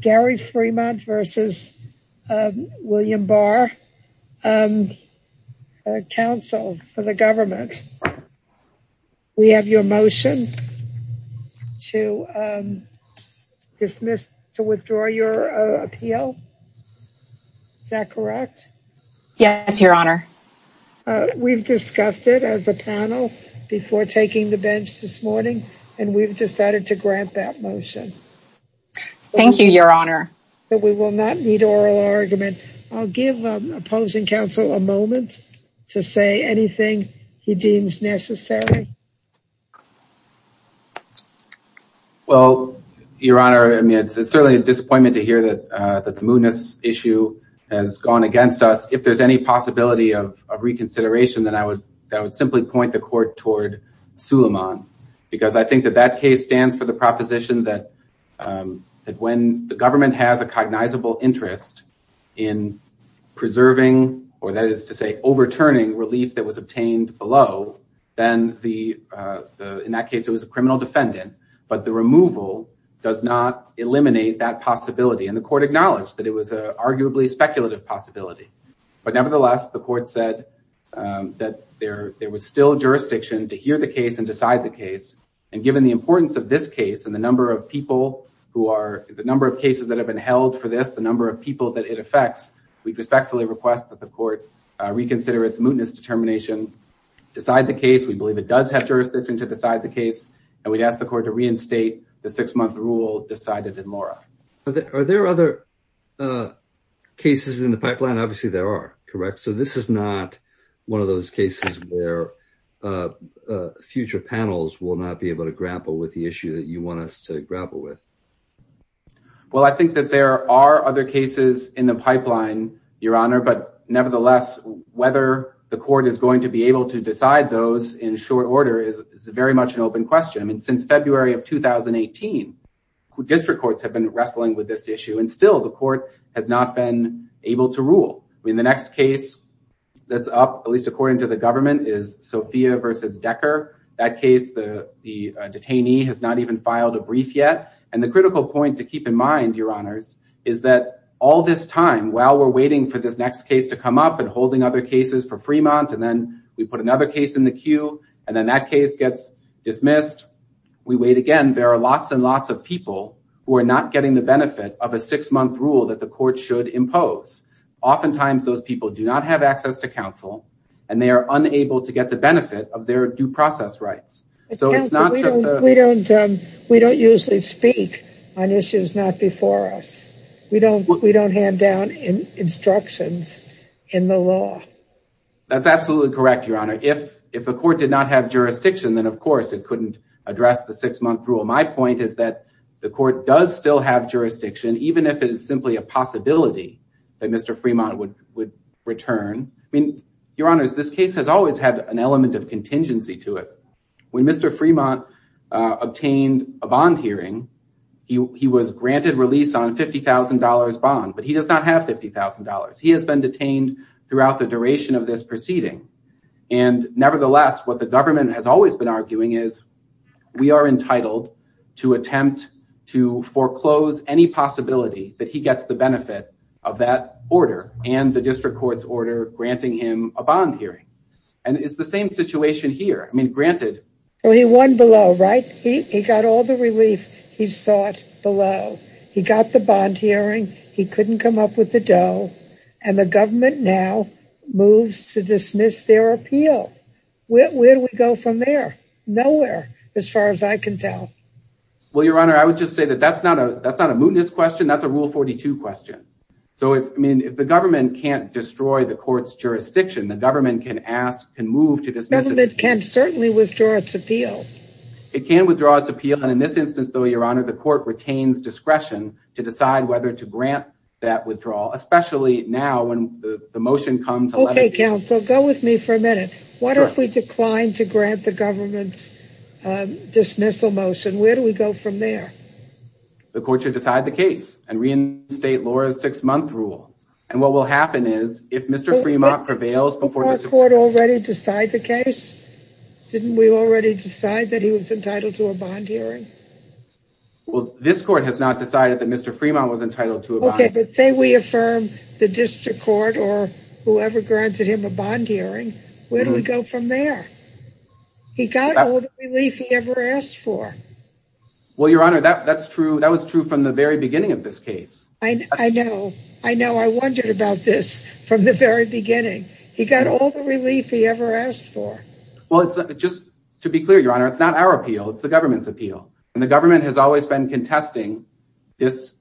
Gary Fremont v. William Barr Council for the government. We have your motion to dismiss to withdraw your appeal. Is that correct? Yes, your honor. We've discussed it as a panel before taking the bench this morning and we've decided to grant that motion. Thank you, your honor. We will not need oral argument. I'll give opposing counsel a moment to say anything he deems necessary. Well, your honor, it's certainly a disappointment to hear that the Munis issue has gone against us. If there's any possibility of reconsideration, then I would simply point the court toward Suleiman because I think that that case stands for the proposition that when the government has a cognizable interest in preserving, or that is to say, overturning relief that was obtained below, then in that case it was a criminal defendant, but the removal does not eliminate that possibility. And the court acknowledged that it was an arguably speculative possibility. But nevertheless, the court said that there is a jurisdiction to decide the case and decide the case. And given the importance of this case and the number of people who are, the number of cases that have been held for this, the number of people that it affects, we'd respectfully request that the court reconsider its Munis determination, decide the case. We believe it does have jurisdiction to decide the case. And we'd ask the court to reinstate the six month rule decided in Laura. Are there other cases in the pipeline? Obviously there are, correct? So this is not one of those cases where future panels will not be able to grapple with the issue that you want us to grapple with. Well, I think that there are other cases in the pipeline, Your Honor, but nevertheless, whether the court is going to be able to decide those in short order is very much an open question. Since February of 2018, district courts have been wrestling with this issue and still the court has not been able to rule. I mean, the next case that's up, at least according to the government, is Sophia versus Decker. That case, the detainee has not even filed a brief yet. And the critical point to keep in mind, Your Honors, is that all this time, while we're waiting for this next case to come up and holding other cases for Fremont, and then we put another case in the queue and then that case gets dismissed, we wait again. There are lots and lots of people who are not getting the benefit of a six month rule that the court should impose. Oftentimes, those people do not have access to counsel and they are unable to get the benefit of their due process rights. We don't usually speak on issues not before us. We don't hand down instructions in the law. That's absolutely correct, Your Honor. If a court did not have jurisdiction, then of course it couldn't address the six month rule. My point is that the court does still have jurisdiction, even if it is simply a possibility that Mr. Fremont would return. I mean, Your Honors, this case has always had an element of contingency to it. When Mr. Fremont obtained a bond hearing, he was granted release on $50,000 bond, but he does not have $50,000. He has been detained throughout the duration of this proceeding. Nevertheless, what the government has always been arguing is we are entitled to attempt to foreclose any possibility that he gets the benefit of that order and the district court's order granting him a bond hearing. It's the same situation here. I mean, granted- Well, he won below, right? He got all the relief he sought below. He got the bond hearing, he couldn't come up with the dough, and the government now moves to dismiss their appeal. Where do we go from there? Nowhere, as far as I can tell. Well, Your Honor, I would just say that that's not a mootness question. That's a Rule 42 question. So, I mean, if the government can't destroy the court's jurisdiction, the government can ask, can move to dismiss- Government can certainly withdraw its appeal. It can withdraw its appeal. And in this instance, though, Your Honor, the court retains discretion to decide whether to grant that withdrawal, especially now when the motion comes to- Okay, counsel, go with me for a minute. What if we decline to grant the government's dismissal motion? Where do we go from there? The court should decide the case and reinstate Laura's six-month rule. And what will happen is if Mr. Fremont prevails before- Didn't our court already decide the case? Didn't we already decide that he was entitled to a bond hearing? Well, this court has not decided that Mr. Fremont was entitled to a bond- Okay, but say we affirm the district court or whoever granted him a bond hearing, where do we go from there? He got all the relief he ever asked for. Well, Your Honor, that was true from the very beginning of this case. I know. I know. I wondered about this from the very beginning. He got all the relief he ever asked for. Well, just to be clear, Your Honor, it's not our appeal. It's the government's appeal. And the government has always been contesting this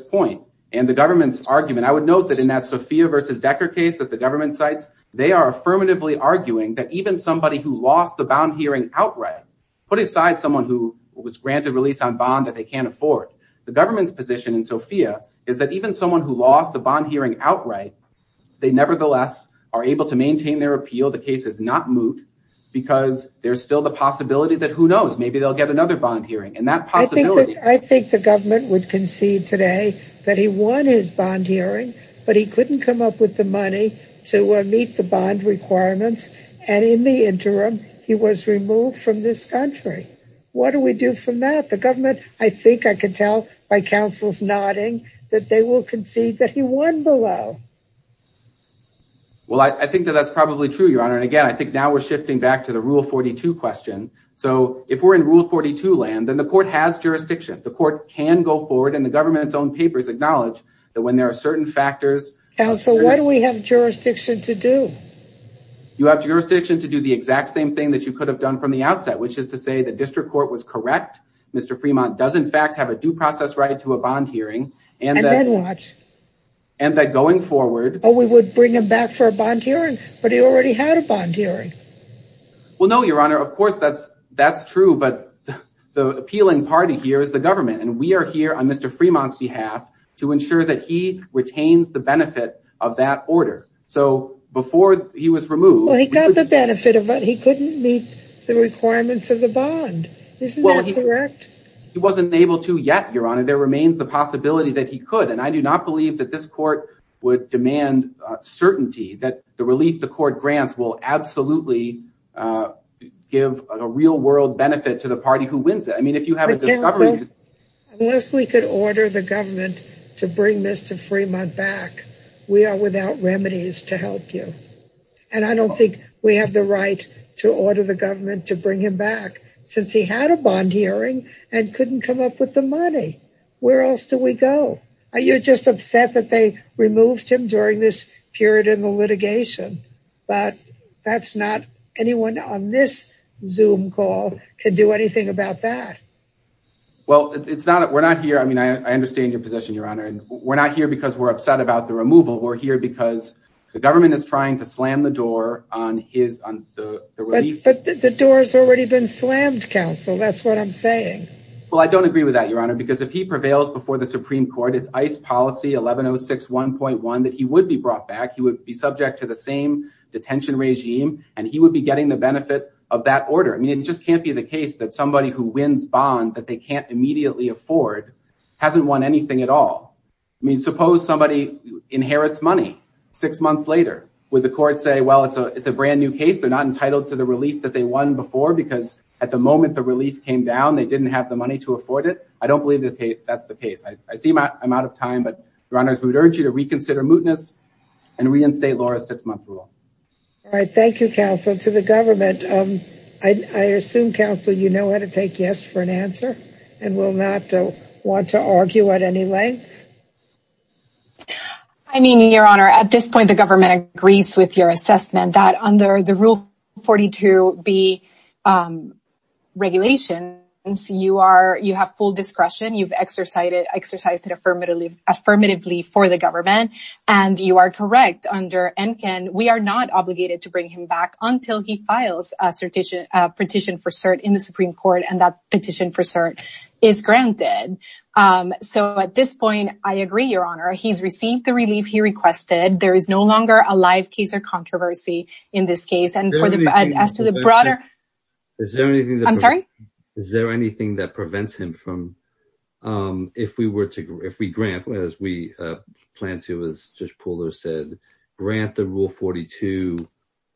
point and the government's argument. I would note that in that Sophia versus Decker case that the government cites, they are affirmatively arguing that even somebody who lost the bond hearing outright, put aside someone who was granted release on bond that they can't afford, the government's position in Sophia is that even someone who lost the bond hearing outright, they nevertheless are able to maintain their appeal. The case is not moot because there's the possibility that who knows, maybe they'll get another bond hearing. And that possibility- I think the government would concede today that he won his bond hearing, but he couldn't come up with the money to meet the bond requirements. And in the interim, he was removed from this country. What do we do from that? The government, I think I could tell by counsel's nodding that they will concede that he won below. Well, I think that that's probably true, Your Honor. And again, I think now we're shifting back to the rule 42 question. So if we're in rule 42 land, then the court has jurisdiction. The court can go forward and the government's own papers acknowledge that when there are certain factors- Counsel, what do we have jurisdiction to do? You have jurisdiction to do the exact same thing that you could have done from the outset, which is to say the district court was correct. Mr. Fremont does in fact have a due process right to a bond hearing. And then what? And that going forward- Oh, we would bring him back for a bond hearing, but he already had a bond hearing. Well, no, Your Honor. Of course that's true, but the appealing party here is the government. And we are here on Mr. Fremont's behalf to ensure that he retains the benefit of that order. So before he was removed- Well, he got the benefit of it, he couldn't meet the requirements of the bond. Isn't that correct? He wasn't able to yet, Your Honor. There remains the possibility that he could. And I do not believe that this court would demand certainty that the relief the court grants will absolutely give a real world benefit to the party who wins it. I mean, if you have a discovery- Unless we could order the government to bring Mr. Fremont back, we are without remedies to help you. And I don't think we have the right to order the government to bring him back since he had a bond hearing and couldn't come up with the money. Where else do we go? You're just upset that they removed him during this period in the litigation, but that's not anyone on this Zoom call could do anything about that. Well, we're not here. I mean, I understand your position, Your Honor. And we're not here because we're upset about the removal. We're here because the government is trying to slam the door on the relief. But the door's already been slammed, counsel. That's what I'm saying. Well, I don't agree with that, Your Honor, because if he prevails before the Supreme Court, it's ICE policy 11061.1 that he would be brought back. He would be subject to the same detention regime, and he would be getting the benefit of that order. I mean, it just can't be the case that somebody who wins bond that they can't immediately afford hasn't won anything at all. I mean, suppose somebody inherits money six months later. Would the court say, well, it's a brand new case. They're not entitled to the relief that they won before because at the moment the relief came down, they didn't have the money to afford it. I don't believe that's the case. I see I'm out of time, but Your Honors, we would urge you to reconsider mootness and reinstate Laura's six-month rule. All right. Thank you, counsel. To the government, I assume, counsel, you know how to take yes for an answer and will not want to argue at any length. I mean, Your Honor, at this point, the government agrees with your assessment that under the Rule 42B regulations, you have full discretion. You've exercised it affirmatively for the government, and you are correct. Under ENCAN, we are not obligated to bring him back until he files a petition for cert in the Supreme Court and that petition for cert is granted. So at this point, I agree, Your Honor. He's received the relief he requested. There is no longer a live case or controversy in this case. Is there anything that prevents him from, if we grant, as we plan to, as Judge Pooler said, grant the Rule 42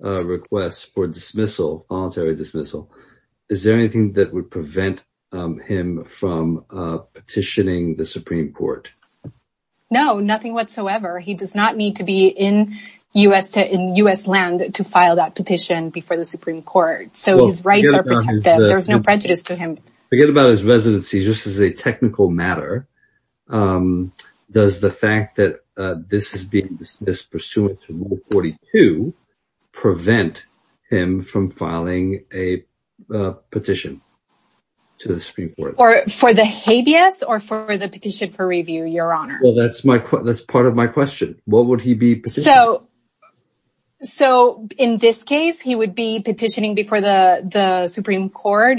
request for voluntary dismissal, is there anything that would prevent him from petitioning the Supreme Court? No, nothing whatsoever. He does not need to be in U.S. land to file that petition before the Supreme Court. So his rights are protected. There's no prejudice to him. Forget about his residency. Just as a technical matter, does the fact that this is being dismissed pursuant to Rule 42 prevent him from filing a petition to the Supreme Court? For the habeas or for the petition for review, Your Honor? Well, that's part of my question. What would he be petitioning? So in this case, he would be petitioning before the Supreme Court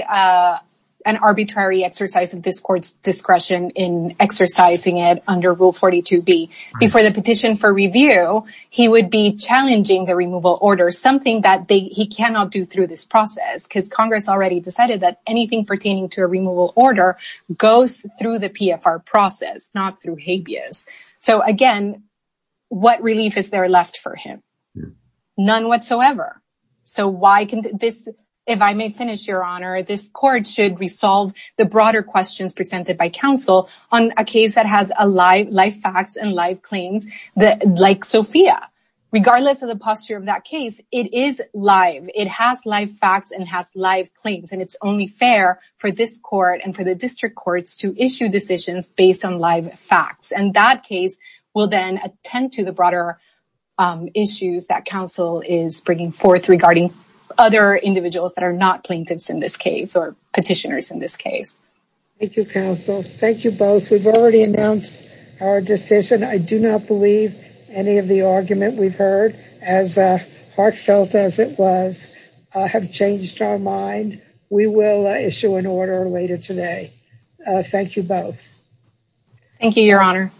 an arbitrary exercise of this Court's discretion in exercising it under Rule 42b. Before the petition for review, he would be challenging the removal order, something that he cannot do through this process because Congress already decided that anything pertaining to a removal order goes through the Supreme Court. None whatsoever. So if I may finish, Your Honor, this Court should resolve the broader questions presented by counsel on a case that has live facts and live claims, like Sophia. Regardless of the posture of that case, it is live. It has live facts and has live claims. And it's only fair for this Court and for the District Courts to issue decisions based on facts. And that case will then attend to the broader issues that counsel is bringing forth regarding other individuals that are not plaintiffs in this case or petitioners in this case. Thank you, counsel. Thank you both. We've already announced our decision. I do not believe any of the argument we've heard, as heartfelt as it was, have changed our mind. We will issue an order later today. Thank you both. Thank you, Your Honor.